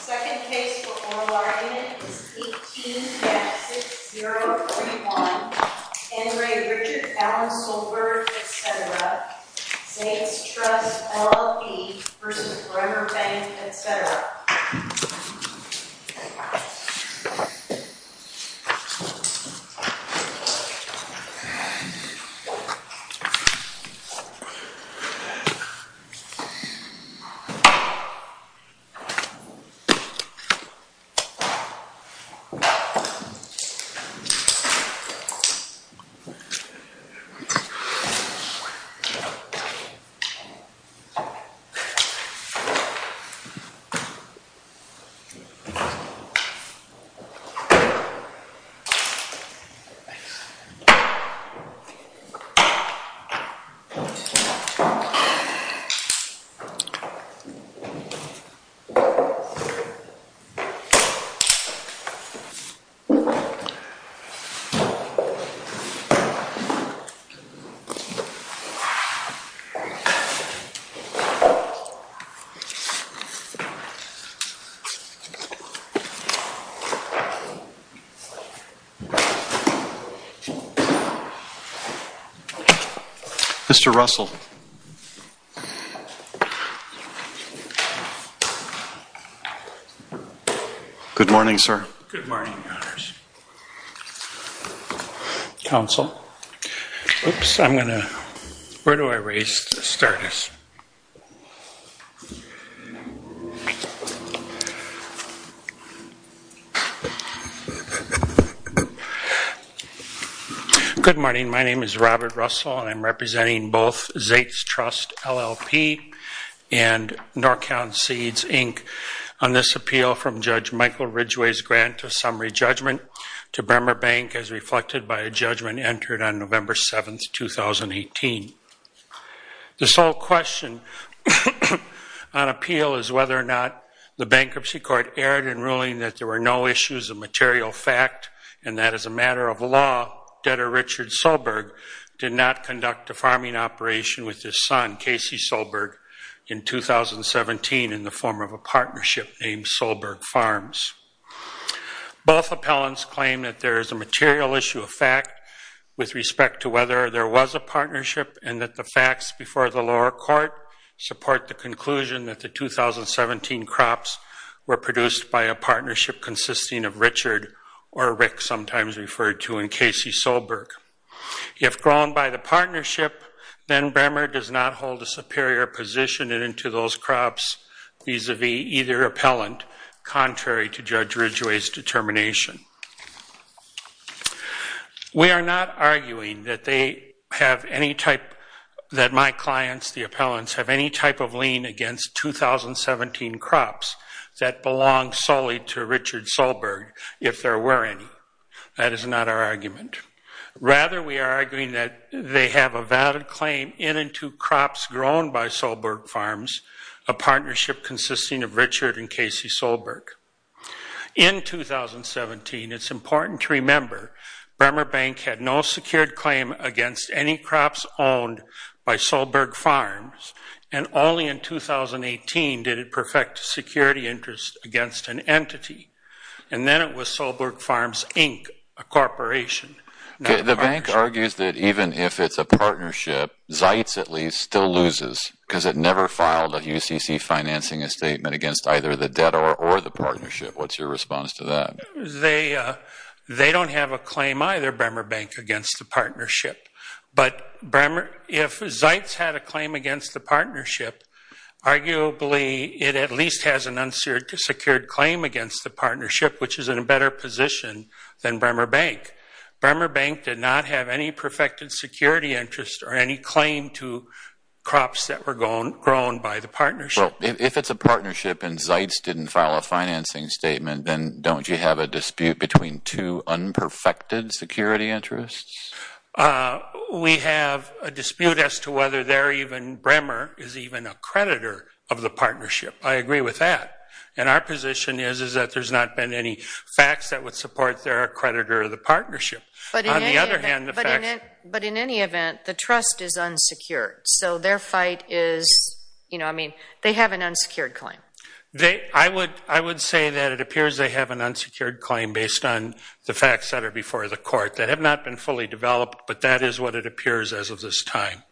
Second case for ORNLR unit is 18-6031, N. Ray Richard, Alan Solberg, etc. Zaitz Trust, LLP v. Bremer Bank, etc. Zaitz Trust, LLP v. Bremer Bank, etc. Mr. Russell. Mr. Russell. Good morning, sir. Good morning, Your Honours. Counsel. Oops, I'm going to... Where do I raise to start this? Good morning. My name is Robert Russell and I'm representing both Zaitz Trust, LLP and NorCal Seeds, Inc. on this appeal from Judge Michael Ridgeway's grant to summary judgment to Bremer Bank as reflected by a judgment entered on November 7, 2018. The sole question on appeal is whether or not the bankruptcy court erred in ruling that there were no issues of material fact and that as a matter of law, debtor Richard Solberg did not conduct a farming operation with his son, Casey Solberg, in 2017 in the form of a partnership named Solberg Farms. Both appellants claim that there is a material issue of fact with respect to whether there was a partnership and that the facts before the lower court support the conclusion that the 2017 crops were produced by a partnership consisting of Richard or Rick, sometimes referred to in Casey Solberg. If grown by the partnership, then Bremer does not hold a superior position into those crops vis-a-vis either appellant, contrary to Judge Ridgeway's determination. We are not arguing that my clients, the appellants, have any type of lien against 2017 crops that belong solely to Richard Solberg, if there were any. That is not our argument. Rather, we are arguing that they have a valid claim in and to crops grown by Solberg Farms, a partnership consisting of Richard and Casey Solberg. In 2017, it's important to remember, Bremer Bank had no secured claim against any crops owned by Solberg Farms and only in 2018 did it perfect a security interest against an entity. And then it was Solberg Farms, Inc., a corporation. The bank argues that even if it's a partnership, Zeitz at least, still loses because it never filed a UCC financing statement against either the debtor or the partnership. What's your response to that? They don't have a claim either, Bremer Bank, against the partnership. But if Zeitz had a claim against the partnership, arguably it at least has an unsecured claim against the partnership, which is in a better position than Bremer Bank. Bremer Bank did not have any perfected security interest or any claim to crops that were grown by the partnership. If it's a partnership and Zeitz didn't file a financing statement, then don't you have a dispute between two unperfected security interests? We have a dispute as to whether Bremer is even a creditor of the partnership. I agree with that. And our position is that there's not been any facts that would support their creditor of the partnership. But in any event, the trust is unsecured. So their fight is, you know, I mean, they have an unsecured claim. I would say that it appears they have an unsecured claim based on the facts that are before the court that have not been fully developed, but that is what it appears as of this time.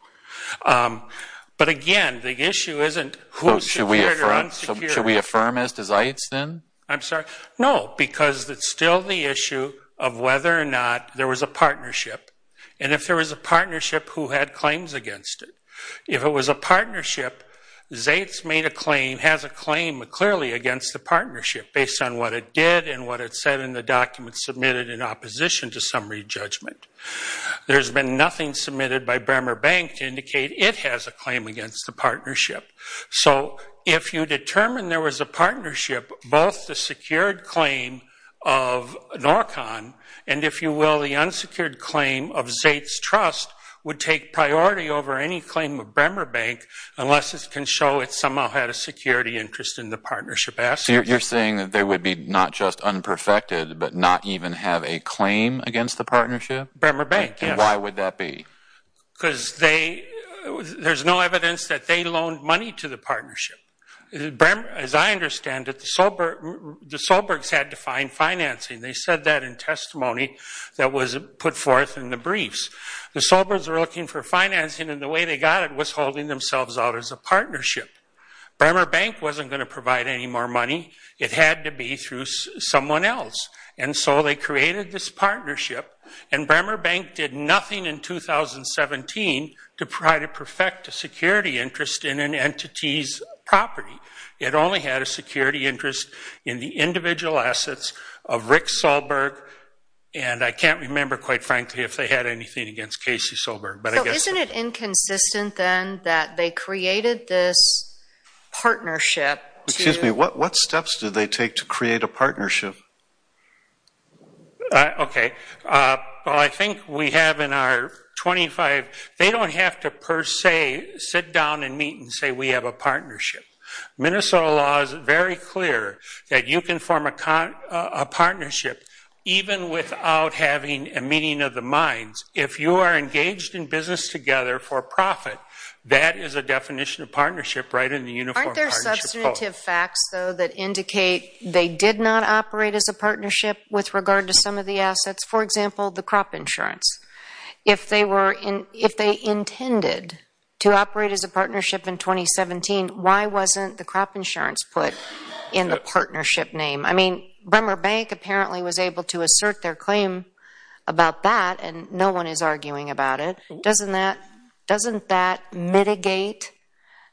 But again, the issue isn't who's secured or unsecured. So should we affirm as to Zeitz then? I'm sorry? No, because it's still the issue of whether or not there was a partnership. And if there was a partnership, who had claims against it? If it was a partnership, Zeitz made a claim, has a claim clearly against the partnership based on what it did and what it said in the documents submitted in opposition to summary judgment. There's been nothing submitted by Bremer Bank to indicate it has a claim against the partnership. So if you determine there was a partnership, both the secured claim of NORCON and, if you will, the unsecured claim of Zeitz Trust would take priority over any claim of Bremer Bank unless it can show it somehow had a security interest in the partnership. So you're saying that they would be not just unperfected, but not even have a claim against the partnership? Bremer Bank, yes. And why would that be? Because there's no evidence that they loaned money to the partnership. As I understand it, the Solbergs had to find financing. They said that in testimony that was put forth in the briefs. The Solbergs were looking for financing, and the way they got it was holding themselves out as a partnership. Bremer Bank wasn't going to provide any more money. It had to be through someone else, and so they created this partnership, and Bremer Bank did nothing in 2017 to try to perfect a security interest in an entity's property. It only had a security interest in the individual assets of Rick Solberg, and I can't remember, quite frankly, if they had anything against Casey Solberg. So isn't it inconsistent, then, that they created this partnership to Excuse me, what steps did they take to create a partnership? Okay. Well, I think we have in our 25, they don't have to per se sit down and meet and say we have a partnership. Minnesota law is very clear that you can form a partnership even without having a meeting of the minds. If you are engaged in business together for profit, that is a definition of partnership right in the Uniform Partnership Code. Aren't there substantive facts, though, that indicate they did not operate as a partnership with regard to some of the assets, for example, the crop insurance? If they intended to operate as a partnership in 2017, why wasn't the crop insurance put in the partnership name? I mean, Bremer Bank apparently was able to assert their claim about that, and no one is arguing about it. Doesn't that mitigate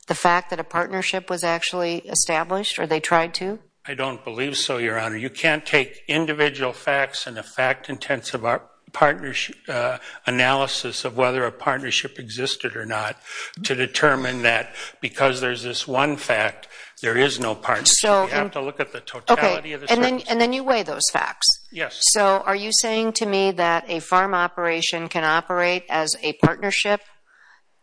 the fact that a partnership was actually established, or they tried to? I don't believe so, Your Honor. You can't take individual facts and a fact-intensive analysis of whether a partnership existed or not to determine that because there's this one fact, there is no partnership. You have to look at the totality of the facts. And then you weigh those facts. So are you saying to me that a farm operation can operate as a partnership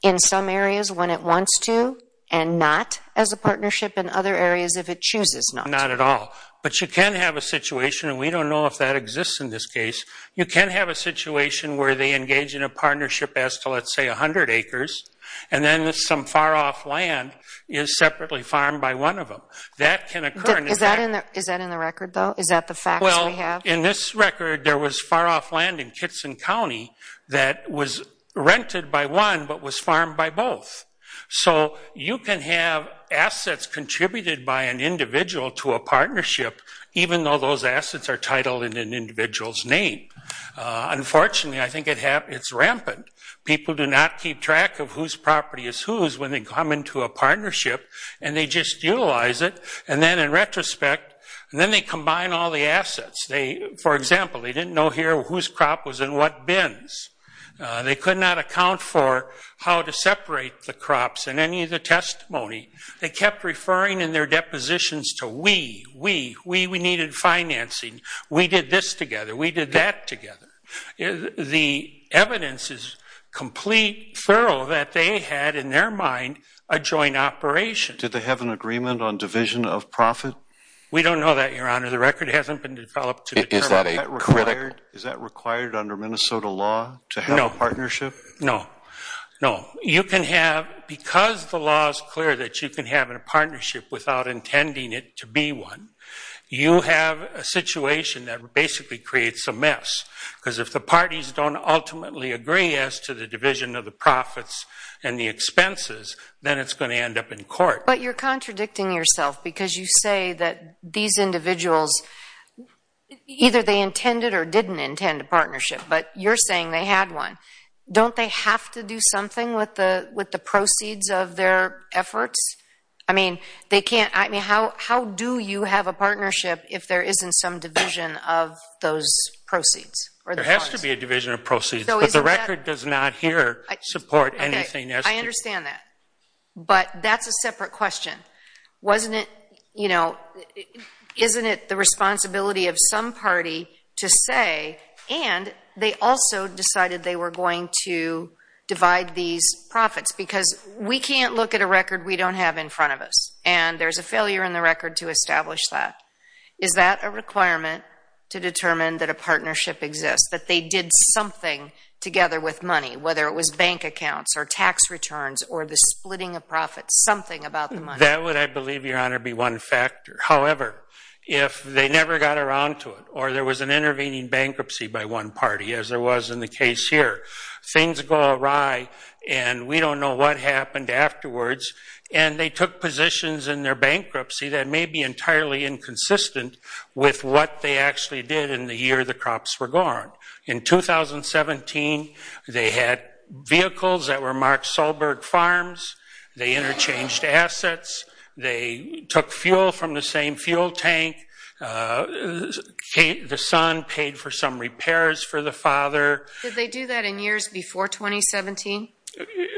in some areas when it wants to and not as a partnership in other areas if it chooses not? Not at all. But you can have a situation, and we don't know if that exists in this case, you can have a situation where they engage in a partnership as to, let's say, 100 acres, and then some far-off land is separately farmed by one of them. That can occur. Is that in the record, though? Is that the facts we have? Well, in this record, there was far-off land in Kitson County that was rented by one but was farmed by both. So you can have assets contributed by an individual to a partnership even though those assets are titled in an individual's name. Unfortunately, I think it's rampant. People do not keep track of whose property is whose when they come into a partnership, and they just utilize it, and then in retrospect, and then they combine all the assets. For example, they didn't know here whose crop was in what bins. They could not account for how to separate the crops in any of the testimony. They kept referring in their depositions to we, we, we, we needed financing. We did that together. The evidence is complete, thorough, that they had in their mind a joint operation. Did they have an agreement on division of profit? We don't know that, Your Honor. The record hasn't been developed to determine that. Is that required under Minnesota law to have a partnership? No, no. You can have, because the law is clear that you can have a partnership without intending it to be one, you have a situation that basically creates a mess, because if the parties don't ultimately agree as to the division of the profits and the expenses, then it's going to end up in court. But you're contradicting yourself because you say that these individuals, either they intended or didn't intend a partnership, but you're saying they had one. Don't they have to do something with the proceeds of their efforts? I mean, they can't, I mean, how do you have a partnership if there isn't some division of those proceeds? There has to be a division of proceeds, but the record does not here support anything as to. Okay, I understand that. But that's a separate question. Wasn't it, you know, isn't it the responsibility of some party to say, and they also decided they were going to divide these profits, because we can't look at a record we don't have in front of us, and there's a failure in the record to establish that. Is that a requirement to determine that a partnership exists, that they did something together with money, whether it was bank accounts or tax returns or the splitting of profits, something about the money? That would, I believe, Your Honor, be one factor. However, if they never got around to it, or there was an intervening bankruptcy by one party, as there was in the case here, things go awry, and we don't know what happened afterwards. And they took positions in their bankruptcy that may be entirely inconsistent with what they actually did in the year the crops were gone. In 2017, they had vehicles that were Mark Solberg farms. They interchanged assets. They took fuel from the same fuel tank. The son paid for some repairs for the father. Did they do that in years before 2017?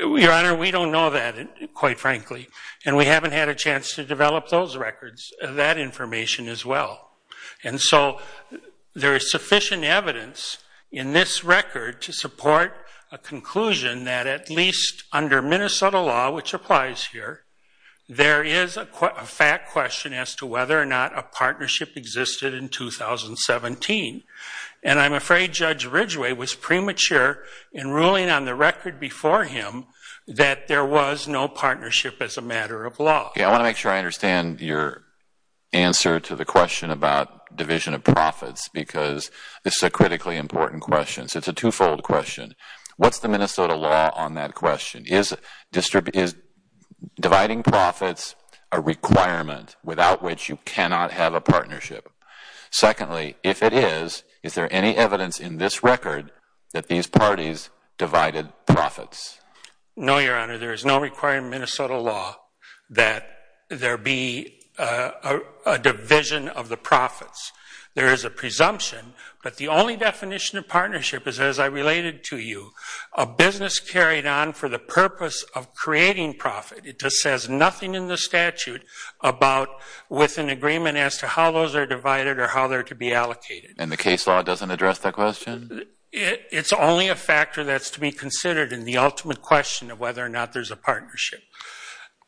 Your Honor, we don't know that, quite frankly, and we haven't had a chance to develop those records, that information as well. And so there is sufficient evidence in this record to support a conclusion that at least under Minnesota law, which applies here, there is a fact question as to whether or not a partnership existed in 2017. And I'm afraid Judge Ridgway was premature in ruling on the record before him that there was no partnership as a matter of law. I want to make sure I understand your answer to the question about division of profits because this is a critically important question. It's a two-fold question. What's the Minnesota law on that question? Is dividing profits a requirement without which you cannot have a partnership? Secondly, if it is, is there any evidence in this record that these parties divided profits? No, Your Honor. There is no requirement in Minnesota law that there be a division of the profits. There is a presumption, but the only definition of partnership is as I related to you, a business carried on for the purpose of creating profit. It just says nothing in the statute about with an agreement as to how those are divided or how they're to be allocated. And the case law doesn't address that question? It's only a factor that's to be considered in the ultimate question of whether or not there's a partnership.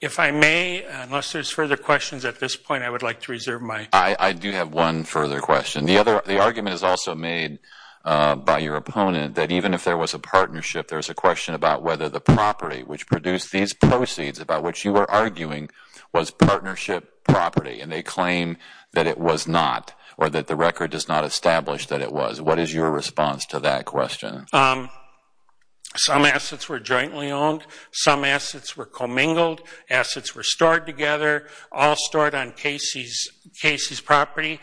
If I may, unless there's further questions at this point, I would like to reserve my... I do have one further question. The argument is also made by your opponent that even if there was a partnership, there's a question about whether the property which produced these proceeds, about which you were arguing, was partnership property. And they claim that it was not or that the record does not establish that it was. What is your response to that question? Some assets were jointly owned. Some assets were commingled. Assets were stored together, all stored on Casey's property.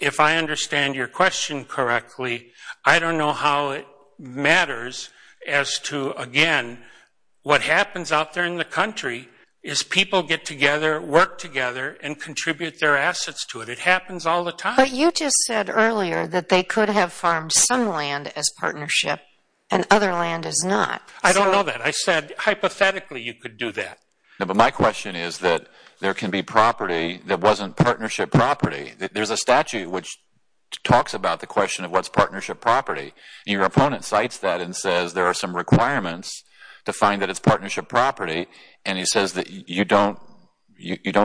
If I understand your question correctly, I don't know how it matters as to, again, what happens out there in the country is people get together, work together, and contribute their assets to it. It happens all the time. But you just said earlier that they could have farmed some land as partnership and other land as not. I don't know that. I said hypothetically you could do that. No, but my question is that there can be property that wasn't partnership property. There's a statute which talks about the question of what's partnership property. And your opponent cites that and says there are some requirements to find that it's partnership property, and he says that you don't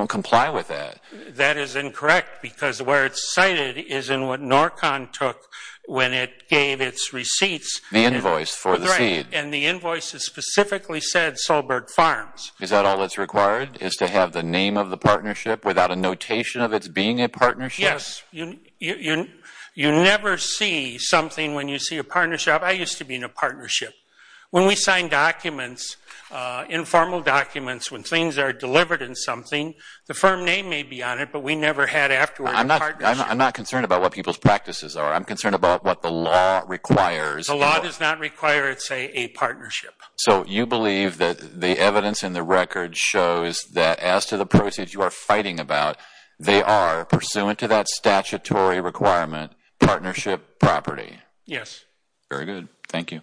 comply with that. That is incorrect because where it's cited is in what NORCON took when it gave its receipts. The invoice for the seed. Right, and the invoice has specifically said Solberg Farms. Is that all that's required is to have the name of the partnership without a notation of its being a partnership? Yes. You never see something when you see a partnership. I used to be in a partnership. When we sign documents, informal documents, when things are delivered in something, the firm name may be on it, but we never had afterwards a partnership. I'm not concerned about what people's practices are. I'm concerned about what the law requires. The law does not require, say, a partnership. So you believe that the evidence in the record shows that as to the proceeds you are fighting about, they are, pursuant to that statutory requirement, partnership property? Yes. Very good. Thank you.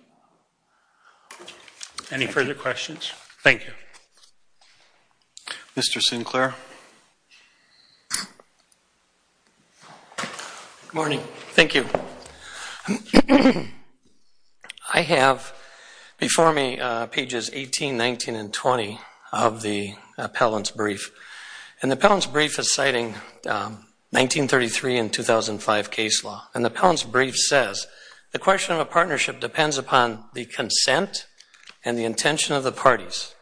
Any further questions? Thank you. Mr. Sinclair. Good morning. Thank you. I have before me pages 18, 19, and 20 of the appellant's brief. And the appellant's brief is citing 1933 and 2005 case law. And the appellant's brief says the question of a partnership depends upon the consent and the intention of the parties.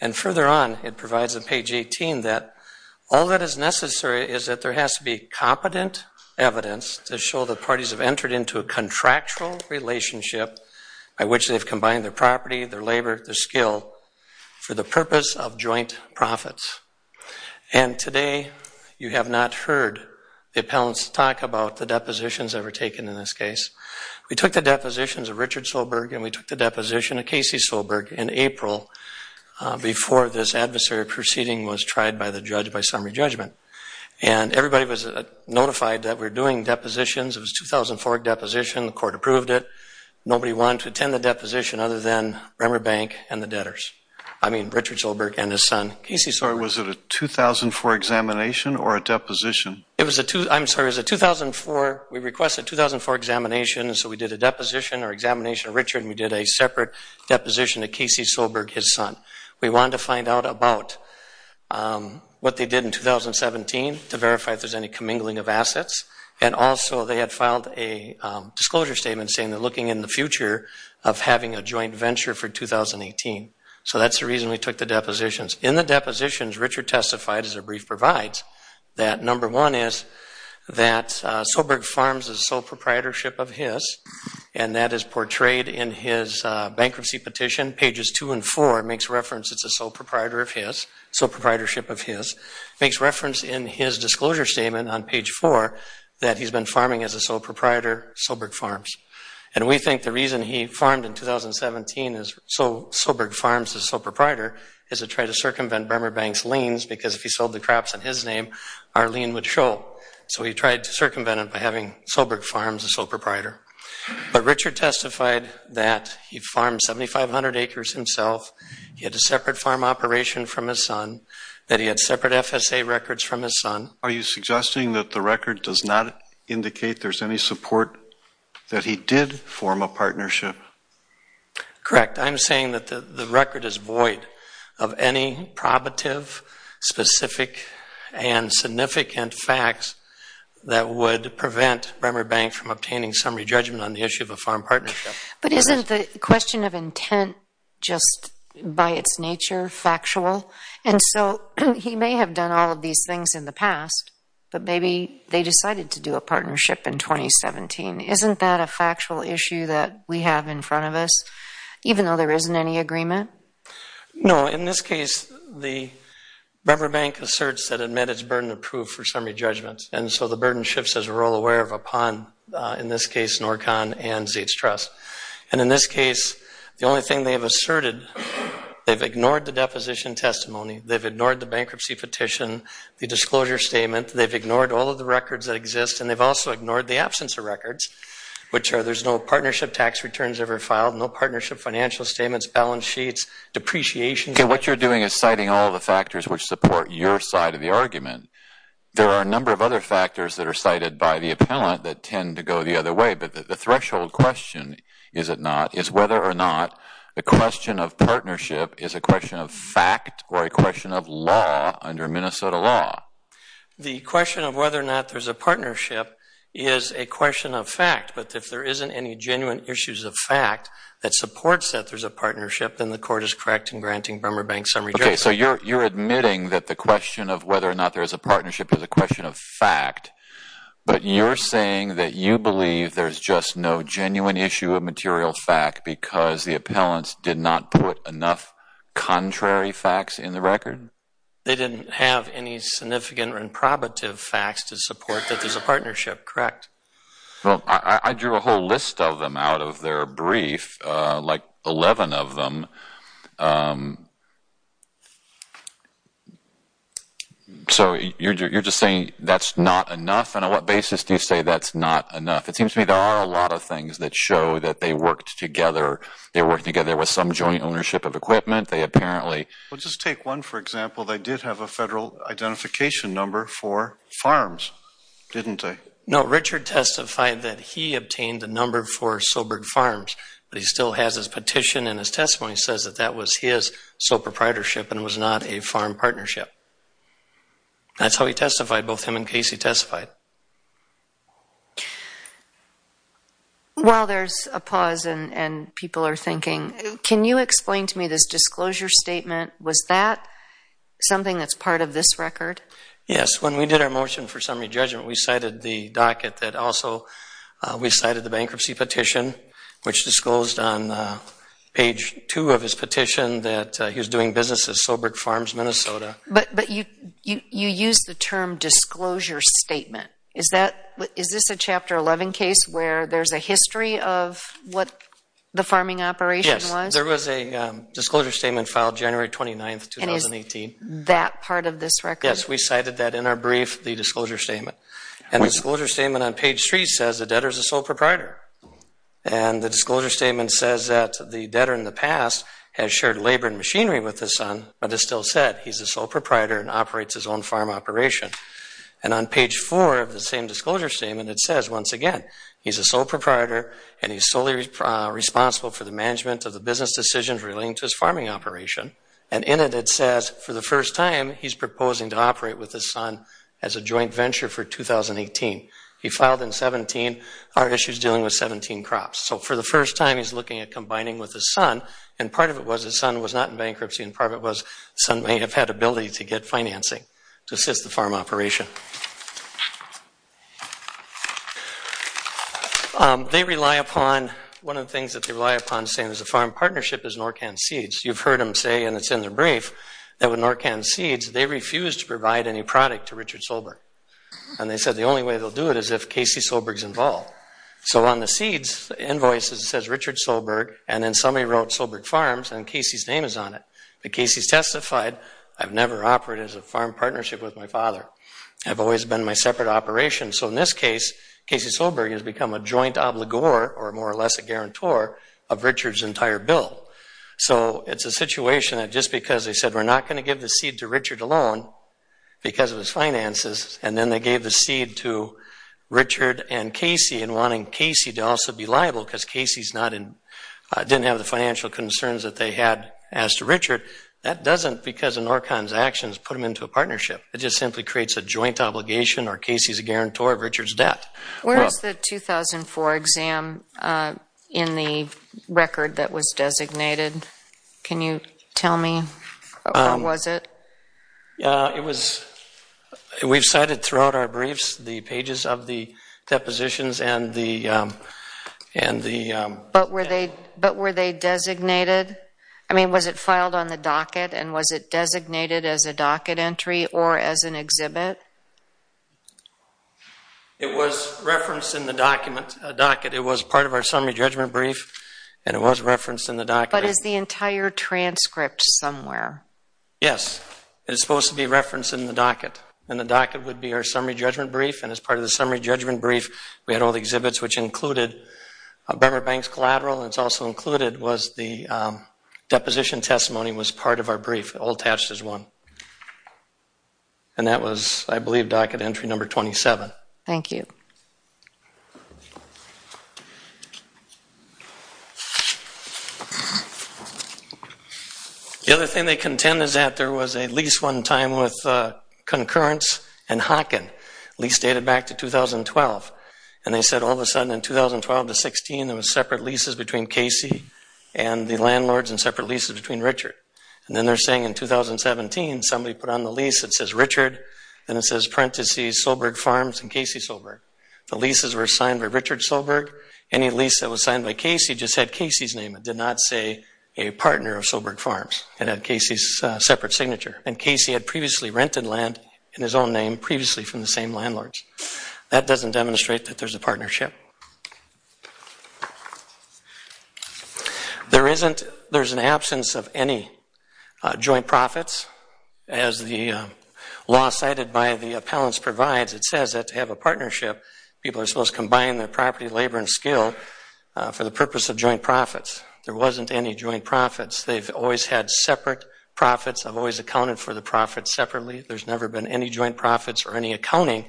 And further on, it provides on page 18 that all that is necessary is that there has to be competent evidence to show that parties have entered into a contractual relationship by which they've combined their property, their labor, their skill, for the purpose of joint profits. And today you have not heard the appellant's talk about the depositions that were taken in this case. We took the depositions of Richard Soberg and we took the deposition of Casey Soberg in April before this adversary proceeding was tried by the judge by summary judgment. And everybody was notified that we're doing depositions. It was a 2004 deposition. The court approved it. Nobody wanted to attend the deposition other than Remmerbank and the debtors. I mean Richard Soberg and his son, Casey Soberg. Was it a 2004 examination or a deposition? I'm sorry, it was a 2004. We requested a 2004 examination, so we did a deposition or examination of Richard and we did a separate deposition of Casey Soberg, his son. We wanted to find out about what they did in 2017 to verify if there's any commingling of assets. And also they had filed a disclosure statement saying they're looking in the future of having a joint venture for 2018. So that's the reason we took the depositions. In the depositions, Richard testified, as the brief provides, that number one is that Soberg Farms is sole proprietorship of his and that is portrayed in his bankruptcy petition. Pages two and four makes reference it's a sole proprietorship of his. Makes reference in his disclosure statement on page four that he's been farming as a sole proprietor, Soberg Farms. And we think the reason he farmed in 2017, Soberg Farms is sole proprietor, is to try to circumvent Bremer Bank's liens because if he sold the crops in his name, our lien would show. So he tried to circumvent it by having Soberg Farms as sole proprietor. But Richard testified that he farmed 7,500 acres himself, he had a separate farm operation from his son, that he had separate FSA records from his son. Are you suggesting that the record does not indicate there's any support that he did form a partnership? Correct. I'm saying that the record is void of any probative, specific, and significant facts that would prevent Bremer Bank from obtaining summary judgment on the issue of a farm partnership. But isn't the question of intent just by its nature factual? And so he may have done all of these things in the past, but maybe they decided to do a partnership in 2017. Isn't that a factual issue that we have in front of us, even though there isn't any agreement? No. In this case, the Bremer Bank asserts that it met its burden of proof for summary judgment, and so the burden shifts as we're all aware of upon, in this case, NORCON and Zietz Trust. And in this case, the only thing they've asserted, they've ignored the deposition testimony, they've ignored the bankruptcy petition, the disclosure statement, they've ignored all of the records that exist, and they've also ignored the absence of records, which are there's no partnership tax returns ever filed, no partnership financial statements, balance sheets, depreciation. Okay, what you're doing is citing all the factors which support your side of the argument. There are a number of other factors that are cited by the appellant that tend to go the other way, but the threshold question, is it not, is whether or not the question of partnership is a question of fact or a question of law under Minnesota law. The question of whether or not there's a partnership is a question of fact, but if there isn't any genuine issues of fact that supports that there's a partnership, then the court is correct in granting Bremer Bank summary judgment. Okay, so you're admitting that the question of whether or not there's a partnership is a question of fact, but you're saying that you believe there's just no genuine issue of material fact because the appellants did not put enough contrary facts in the record? They didn't have any significant or improbative facts to support that there's a partnership, correct? Well, I drew a whole list of them out of their brief, like 11 of them. So you're just saying that's not enough, and on what basis do you say that's not enough? It seems to me there are a lot of things that show that they worked together. They worked together with some joint ownership of equipment. They apparently... Well, just take one, for example. They did have a federal identification number for farms, didn't they? No, Richard testified that he obtained a number for Sobert Farms, but he still has his petition and his testimony, and he says that that was his sole proprietorship and was not a farm partnership. That's how he testified, both him and Casey testified. Well, there's a pause, and people are thinking. Can you explain to me this disclosure statement? Was that something that's part of this record? Yes, when we did our motion for summary judgment, we cited the docket that also we cited the bankruptcy petition, which disclosed on page 2 of his petition that he was doing business at Sobert Farms, Minnesota. But you used the term disclosure statement. Is this a Chapter 11 case where there's a history of what the farming operation was? Yes, there was a disclosure statement filed January 29, 2018. And is that part of this record? Yes, we cited that in our brief, the disclosure statement. And the disclosure statement on page 3 says the debtor is a sole proprietor. And the disclosure statement says that the debtor in the past has shared labor and machinery with his son, but it still said he's a sole proprietor and operates his own farm operation. And on page 4 of the same disclosure statement, it says once again, he's a sole proprietor and he's solely responsible for the management of the business decisions relating to his farming operation. And in it, it says for the first time, he's proposing to operate with his son as a joint venture for 2018. He filed in 17. Our issue is dealing with 17 crops. So for the first time, he's looking at combining with his son. And part of it was his son was not in bankruptcy, and part of it was his son may have had ability to get financing to assist the farm operation. They rely upon, one of the things that they rely upon, is the farm partnership is Norcan Seeds. You've heard him say, and it's in the brief, that with Norcan Seeds, they refused to provide any product to Richard Soberg. And they said the only way they'll do it is if Casey Soberg's involved. So on the seeds invoices, it says Richard Soberg, and then somebody wrote Soberg Farms, and Casey's name is on it. But Casey's testified, I've never operated as a farm partnership with my father. I've always been my separate operation. So in this case, Casey Soberg has become a joint obligor, or more or less a guarantor, of Richard's entire bill. So it's a situation that just because they said, we're not going to give the seed to Richard alone, because of his finances, and then they gave the seed to Richard and Casey, and wanting Casey to also be liable, because Casey didn't have the financial concerns that they had as to Richard, that doesn't, because of Norcan's actions, put them into a partnership. It just simply creates a joint obligation, or Casey's a guarantor of Richard's debt. Where is the 2004 exam in the record that was designated? Can you tell me? What was it? It was, we've cited throughout our briefs, the pages of the depositions and the... But were they designated? I mean, was it filed on the docket, and was it designated as a docket entry, or as an exhibit? It was referenced in the docket. It was part of our summary judgment brief, and it was referenced in the docket. But is the entire transcript somewhere? Yes. It is supposed to be referenced in the docket, and the docket would be our summary judgment brief, and as part of the summary judgment brief, we had all the exhibits, which included Bremert Bank's collateral, and it's also included was the deposition testimony was part of our brief, all attached as one. And that was, I believe, docket entry number 27. Thank you. The other thing they contend is that there was a lease one time with Concurrence and Hocken, lease dated back to 2012. And they said all of a sudden in 2012 to 16, there was separate leases between Casey and the landlords and separate leases between Richard. And then they're saying in 2017, somebody put on the lease that says Richard, and it says parentheses Soberg Farms and Casey Soberg. The leases were signed by Richard Soberg. Any lease that was signed by Casey just had Casey's name. It did not say a partner of Soberg Farms. It had Casey's separate signature. And Casey had previously rented land in his own name previously from the same landlords. That doesn't demonstrate that there's a partnership. Thank you. There's an absence of any joint profits. As the law cited by the appellants provides, it says that to have a partnership, people are supposed to combine their property, labor, and skill for the purpose of joint profits. There wasn't any joint profits. They've always had separate profits. I've always accounted for the profits separately. There's never been any joint profits or any accounting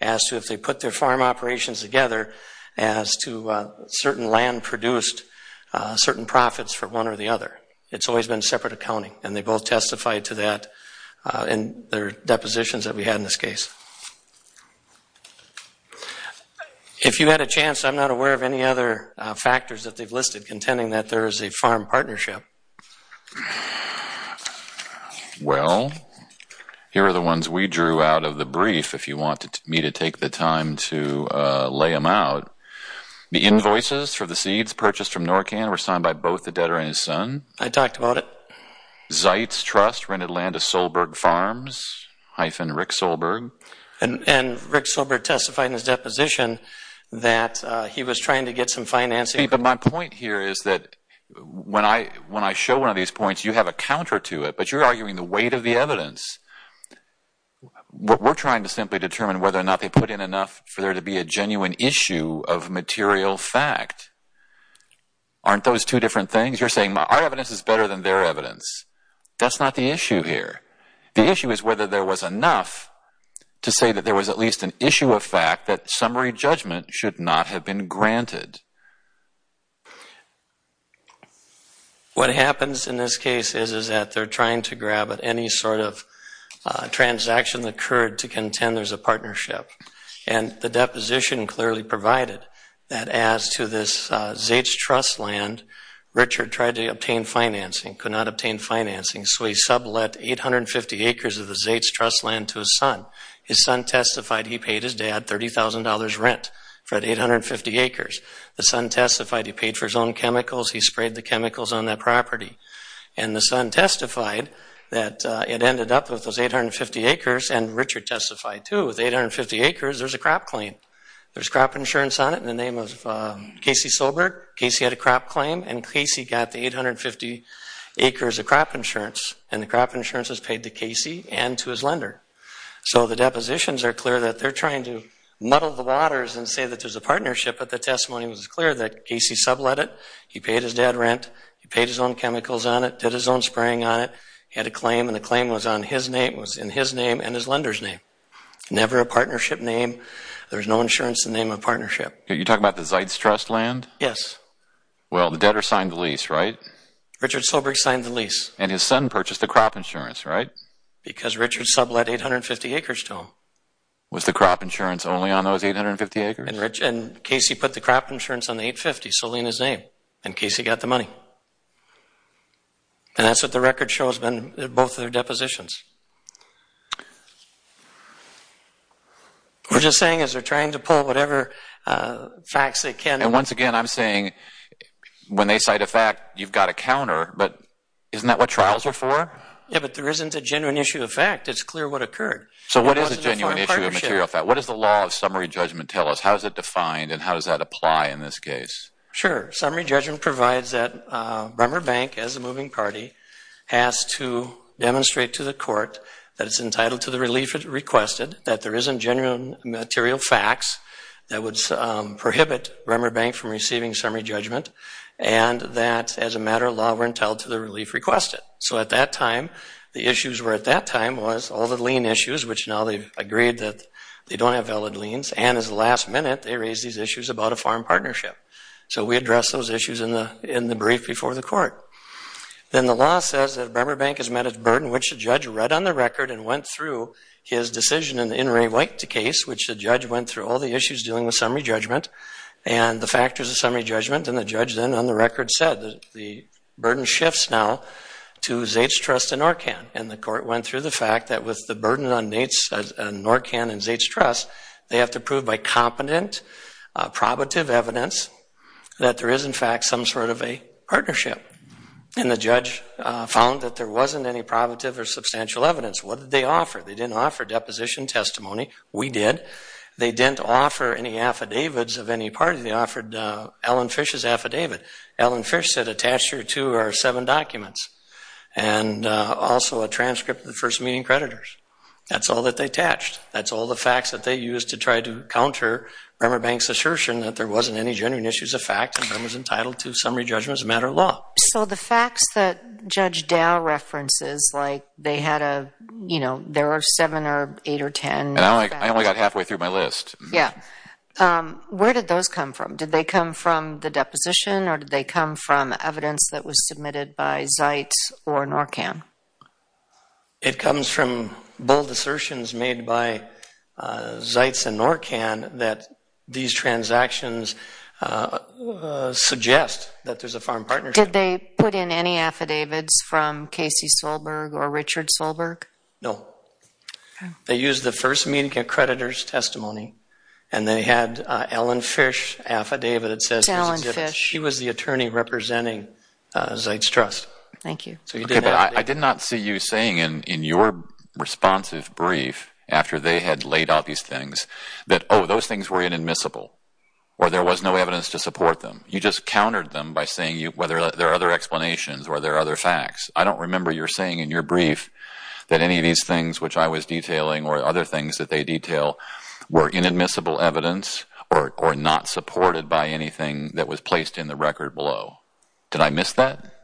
as to if they put their farm operations together as to certain land produced certain profits for one or the other. It's always been separate accounting. And they both testified to that in their depositions that we had in this case. If you had a chance, I'm not aware of any other factors that they've listed contending that there is a farm partnership. Yep. Well, here are the ones we drew out of the brief if you want me to take the time to lay them out. The invoices for the seeds purchased from Norcan were signed by both the debtor and his son. I talked about it. Zeitz Trust rented land to Solberg Farms, hyphen Rick Solberg. And Rick Solberg testified in his deposition that he was trying to get some financing. See, but my point here is that when I show one of these points, you have a counter to it. But you're arguing the weight of the evidence. We're trying to simply determine whether or not they put in enough for there to be a genuine issue of material fact. Aren't those two different things? You're saying our evidence is better than their evidence. That's not the issue here. The issue is whether there was enough to say that there was at least an issue of fact that summary judgment should not have been granted. What happens in this case is that they're trying to grab at any sort of transaction that occurred to contend there's a partnership. And the deposition clearly provided that as to this Zeitz Trust land, Richard tried to obtain financing, could not obtain financing, so he sublet 850 acres of the Zeitz Trust land to his son. His son testified he paid his dad $30,000 rent for the 850 acres. The son testified he paid for his own chemicals. He sprayed the chemicals on that property. And the son testified that it ended up with those 850 acres, and Richard testified too, with 850 acres, there's a crop claim. There's crop insurance on it in the name of Casey Sobert. Casey had a crop claim, and Casey got the 850 acres of crop insurance. And the crop insurance was paid to Casey and to his lender. So the depositions are clear that they're trying to muddle the waters and say that there's a partnership, but the testimony was clear that Casey sublet it. He paid his dad rent. He paid his own chemicals on it, did his own spraying on it. He had a claim, and the claim was in his name and his lender's name. Never a partnership name. There's no insurance in the name of partnership. You're talking about the Zeitz Trust land? Yes. Well, the debtor signed the lease, right? Richard Sobert signed the lease. And his son purchased the crop insurance, right? Because Richard sublet 850 acres to him. Was the crop insurance only on those 850 acres? And Casey put the crop insurance on the 850 solely in his name. And Casey got the money. And that's what the record shows, both of their depositions. We're just saying as they're trying to pull whatever facts they can. And once again, I'm saying when they cite a fact, you've got to counter, but isn't that what trials are for? Yeah, but there isn't a genuine issue of fact. It's clear what occurred. So what is a genuine issue of material fact? What does the law of summary judgment tell us? How is it defined, and how does that apply in this case? Sure. Summary judgment provides that Bremer Bank, as a moving party, has to demonstrate to the court that it's entitled to the relief it requested, that there isn't genuine material facts that would prohibit Bremer Bank from receiving summary judgment, and that as a matter of law we're entitled to the relief requested. So at that time, the issues were at that time was all the lien issues, which now they've agreed that they don't have valid liens, and as of the last minute they raised these issues about a foreign partnership. So we addressed those issues in the brief before the court. Then the law says that Bremer Bank has met its burden, which the judge read on the record and went through his decision in the Inouye-White case, which the judge went through all the issues dealing with summary judgment and the factors of summary judgment. And the judge then on the record said the burden shifts now to Zait's Trust and Norcan, and the court went through the fact that with the burden on Zait's Trust and Norcan, they have to prove by competent, probative evidence that there is in fact some sort of a partnership. And the judge found that there wasn't any probative or substantial evidence. What did they offer? They didn't offer deposition testimony. We did. They didn't offer any affidavits of any party. They offered Ellen Fish's affidavit. Ellen Fish said, Attach your two or seven documents and also a transcript of the first meeting creditors. That's all that they attached. That's all the facts that they used to try to counter Bremer Bank's assertion that there wasn't any genuine issues of fact and Bremer's entitled to summary judgment as a matter of law. So the facts that Judge Dow references, like they had a, you know, there are seven or eight or ten. I only got halfway through my list. Yeah. Where did those come from? Did they come from the deposition or did they come from evidence that was submitted by Zaitz or Norcan? It comes from bold assertions made by Zaitz and Norcan that these transactions suggest that there's a foreign partnership. Did they put in any affidavits from Casey Solberg or Richard Solberg? No. Okay. They used the first meeting creditor's testimony and they had an Ellen Fish affidavit that says she was the attorney representing Zaitz Trust. Thank you. I did not see you saying in your responsive brief after they had laid out these things that, oh, those things were inadmissible or there was no evidence to support them. You just countered them by saying there are other explanations or there are other facts. I don't remember your saying in your brief that any of these things, which I was detailing or other things that they detail, were inadmissible evidence or not supported by anything that was placed in the record below. Did I miss that?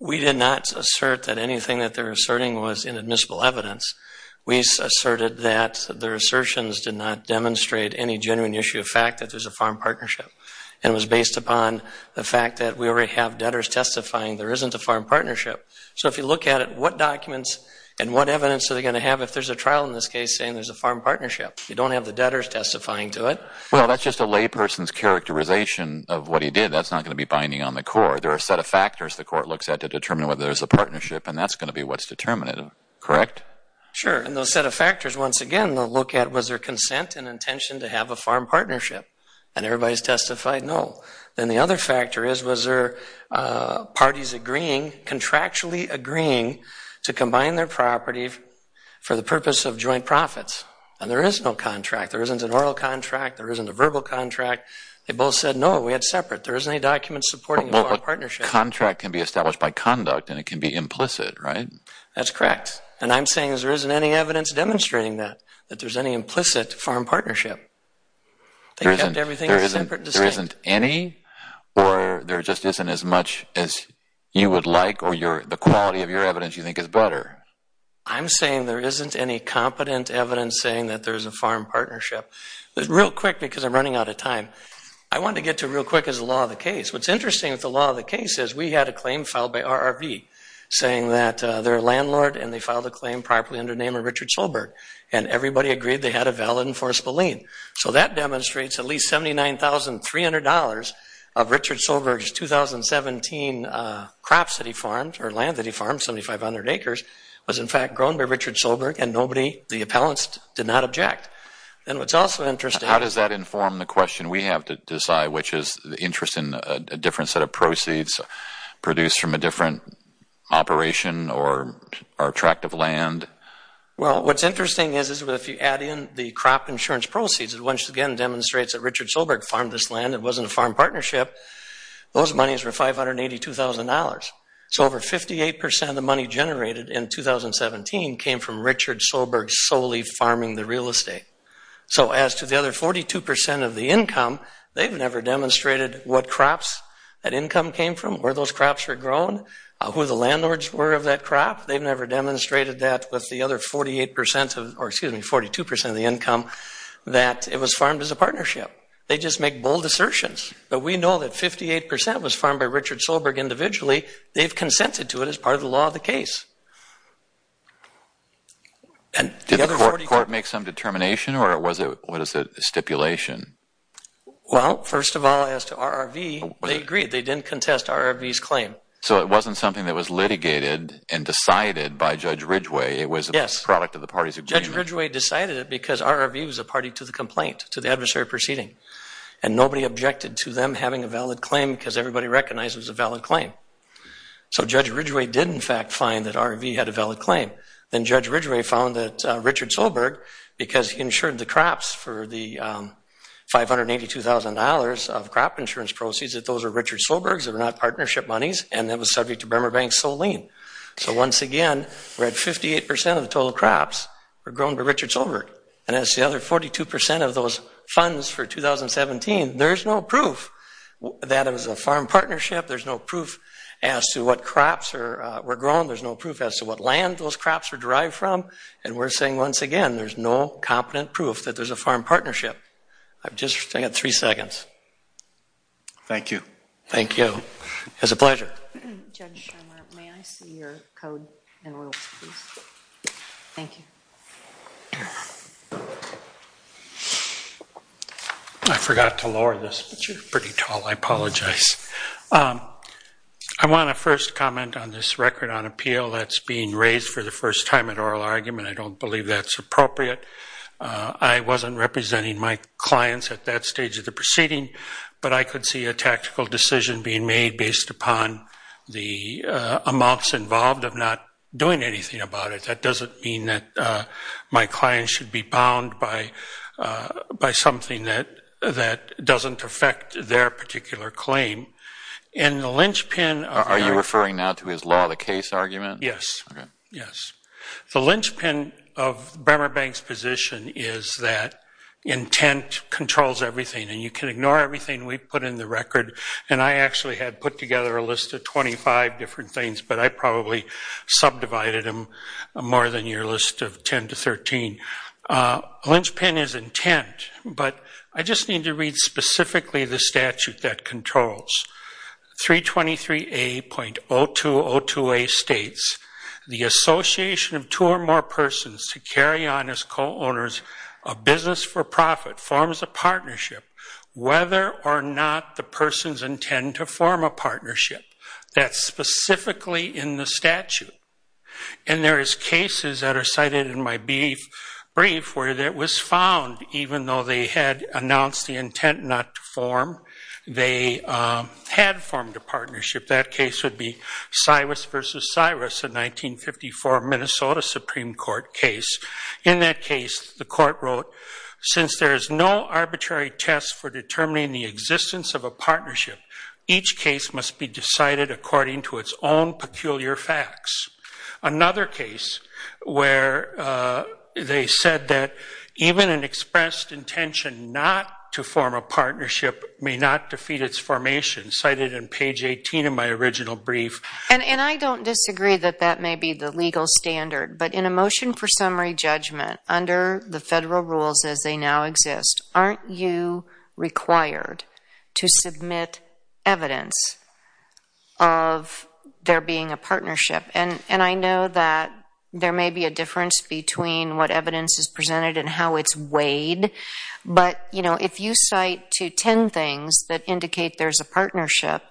We did not assert that anything that they were asserting was inadmissible evidence. We asserted that their assertions did not demonstrate any genuine issue of fact that there's a foreign partnership. It was based upon the fact that we already have debtors testifying there isn't a foreign partnership. So if you look at it, what documents and what evidence are they going to have if there's a trial in this case saying there's a foreign partnership? You don't have the debtors testifying to it. Well, that's just a layperson's characterization of what he did. That's not going to be binding on the court. There are a set of factors the court looks at to determine whether there's a partnership, and that's going to be what's determinative. Correct? Sure. And those set of factors, once again, they'll look at was there consent and intention to have a foreign partnership. And everybody's testified no. Then the other factor is was there parties agreeing, contractually agreeing to combine their property for the purpose of joint profits. And there is no contract. There isn't an oral contract. There isn't a verbal contract. They both said no, we had separate. There isn't any document supporting a foreign partnership. Well, a contract can be established by conduct, and it can be implicit, right? That's correct. And I'm saying there isn't any evidence demonstrating that, that there's any implicit foreign partnership. They kept everything separate and distinct. There isn't any or there just isn't as much as you would like or the quality of your evidence you think is better. I'm saying there isn't any competent evidence saying that there's a foreign partnership. Real quick, because I'm running out of time, I want to get to real quick is the law of the case. What's interesting with the law of the case is we had a claim filed by RRV saying that their landlord and they filed a claim properly under the name of Richard Solberg, and everybody agreed they had a valid and forcible lien. So that demonstrates at least $79,300 of Richard Solberg's 2017 crops that he farmed or land that he farmed, 7,500 acres, was in fact grown by Richard Solberg and nobody, the appellants, did not object. And what's also interesting... How does that inform the question we have to decide, which is the interest in a different set of proceeds produced from a different operation or tract of land? Well, what's interesting is if you add in the crop insurance proceeds, it once again demonstrates that Richard Solberg farmed this land. It wasn't a farm partnership. Those monies were $582,000. So over 58% of the money generated in 2017 came from Richard Solberg solely farming the real estate. So as to the other 42% of the income, they've never demonstrated what crops that income came from, where those crops were grown, who the landlords were of that crop. They've never demonstrated that with the other 42% of the income that it was farmed as a partnership. They just make bold assertions. But we know that 58% was farmed by Richard Solberg individually. They've consented to it as part of the law of the case. Did the court make some determination or was it stipulation? Well, first of all, as to RRV, they agreed. They didn't contest RRV's claim. So it wasn't something that was litigated and decided by Judge Ridgway. It was a product of the party's agreement. Judge Ridgway decided it because RRV was a party to the complaint, to the adversary proceeding, and nobody objected to them having a valid claim because everybody recognized it was a valid claim. So Judge Ridgway did, in fact, find that RRV had a valid claim. Then Judge Ridgway found that Richard Solberg, because he insured the crops for the $582,000 of crop insurance proceeds, that those were Richard Solberg's. They were not partnership monies. And that was subject to Bremer Bank's sole lien. So once again, we're at 58% of the total crops were grown by Richard Solberg. And that's the other 42% of those funds for 2017. There's no proof that it was a farm partnership. There's no proof as to what crops were grown. There's no proof as to what land those crops were derived from. And we're saying once again, there's no competent proof that there's a farm partnership. I've just got three seconds. Thank you. Thank you. It was a pleasure. Judge Shimer, may I see your code and rules, please? Thank you. I forgot to lower this, but you're pretty tall. I apologize. I want to first comment on this record on appeal that's being raised for the first time at oral argument. I don't believe that's appropriate. I wasn't representing my clients at that stage of the proceeding, but I could see a tactical decision being made based upon the amounts involved of not doing anything about it. That doesn't mean that my clients should be bound by something that doesn't affect their particular claim. And the lynchpin of that- Are you referring now to his law of the case argument? Yes. Okay. Yes. The lynchpin of Bremer Bank's position is that intent controls everything, and you can ignore everything we've put in the record. And I actually had put together a list of 25 different things, but I probably subdivided them more than your list of 10 to 13. Lynchpin is intent, but I just need to read specifically the statute that controls. 323A.0202A states, the association of two or more persons to carry on as co-owners of business for profit forms a partnership whether or not the persons intend to form a partnership. That's specifically in the statute. And there is cases that are cited in my brief where it was found even though they had announced the intent not to form, they had formed a partnership. That case would be Cyrus v. Cyrus, a 1954 Minnesota Supreme Court case. In that case, the court wrote, since there is no arbitrary test for determining the existence of a partnership, each case must be decided according to its own peculiar facts. Another case where they said that even an expressed intention not to form a partnership may not defeat its formation, cited in page 18 in my original brief. And I don't disagree that that may be the legal standard, but in a motion for summary judgment under the federal rules as they now exist, aren't you required to submit evidence of there being a partnership? And I know that there may be a difference between what evidence is presented and how it's weighed, but, you know, if you cite to ten things that indicate there's a partnership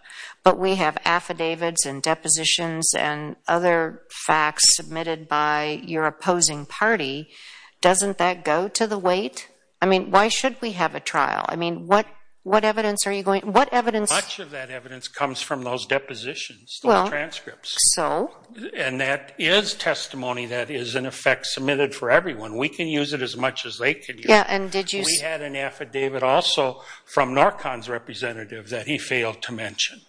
but we have affidavits and depositions and other facts submitted by your opposing party, doesn't that go to the weight? I mean, why should we have a trial? I mean, what evidence are you going to – what evidence – Much of that evidence comes from those depositions, the transcripts. So? And that is testimony that is, in effect, submitted for everyone. We can use it as much as they can use it. Yeah, and did you – We had an affidavit also from NORCON's representative that he failed to mention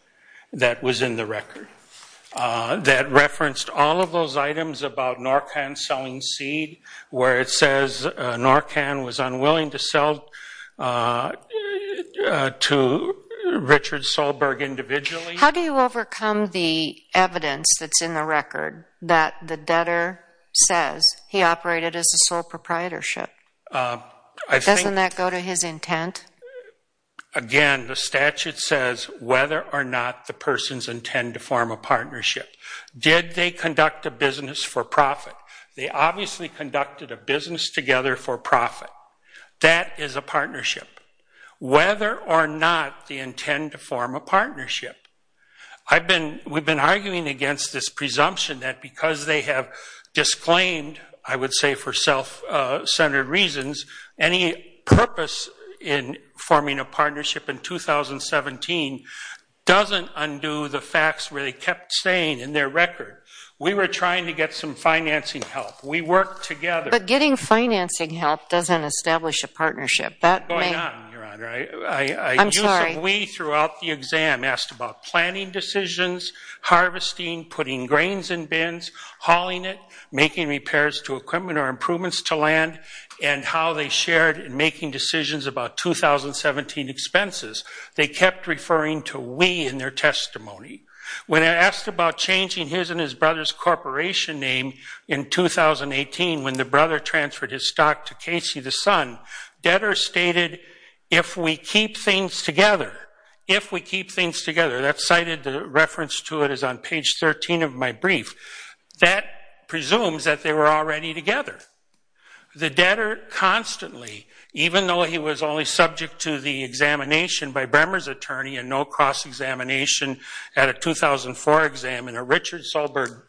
that was in the record that referenced all of those items about NORCON selling seed, where it says NORCON was unwilling to sell to Richard Solberg individually. How do you overcome the evidence that's in the record that the debtor says he operated as a sole proprietorship? Doesn't that go to his intent? Again, the statute says whether or not the persons intend to form a partnership. Did they conduct a business for profit? They obviously conducted a business together for profit. That is a partnership. Whether or not they intend to form a partnership, we've been arguing against this presumption that because they have disclaimed, I would say for self-centered reasons, any purpose in forming a partnership in 2017 doesn't undo the facts where they kept saying in their record, we were trying to get some financing help. We worked together. But getting financing help doesn't establish a partnership. What's going on, Your Honor? I'm sorry. We, throughout the exam, asked about planning decisions, harvesting, putting grains in bins, hauling it, making repairs to equipment or improvements to land, and how they shared in making decisions about 2017 expenses. They kept referring to we in their testimony. When asked about changing his and his brother's corporation name in 2018 when the brother transferred his stock to Casey, the son, debtors stated, if we keep things together, if we keep things together. That cited reference to it is on page 13 of my brief. That presumes that they were already together. The debtor constantly, even though he was only subject to the examination by Bremer's attorney and no cross-examination at a 2004 exam and a Richard Solberg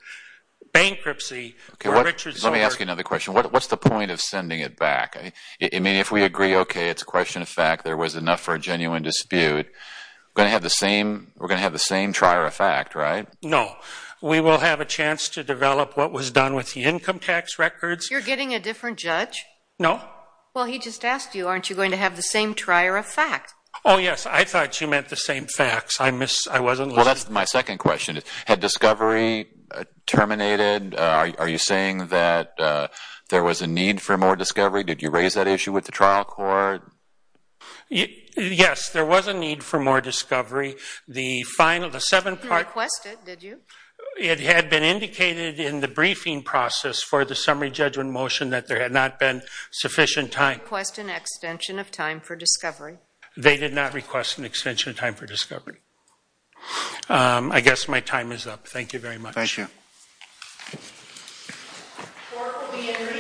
bankruptcy. Let me ask you another question. What's the point of sending it back? I mean, if we agree, okay, it's a question of fact, there was enough for a genuine dispute, we're going to have the same trier of fact, right? No. We will have a chance to develop what was done with the income tax records. You're getting a different judge? No. Well, he just asked you, aren't you going to have the same trier of fact? Oh, yes. I thought you meant the same facts. I wasn't listening. Well, that's my second question. Had discovery terminated? Are you saying that there was a need for more discovery? Did you raise that issue with the trial court? Yes, there was a need for more discovery. The final, the seven part. You didn't request it, did you? It had been indicated in the briefing process for the summary judgment motion that there had not been sufficient time. They didn't request an extension of time for discovery. They did not request an extension of time for discovery. I guess my time is up. Thank you very much. Thank you. The court will be in recess until further notice.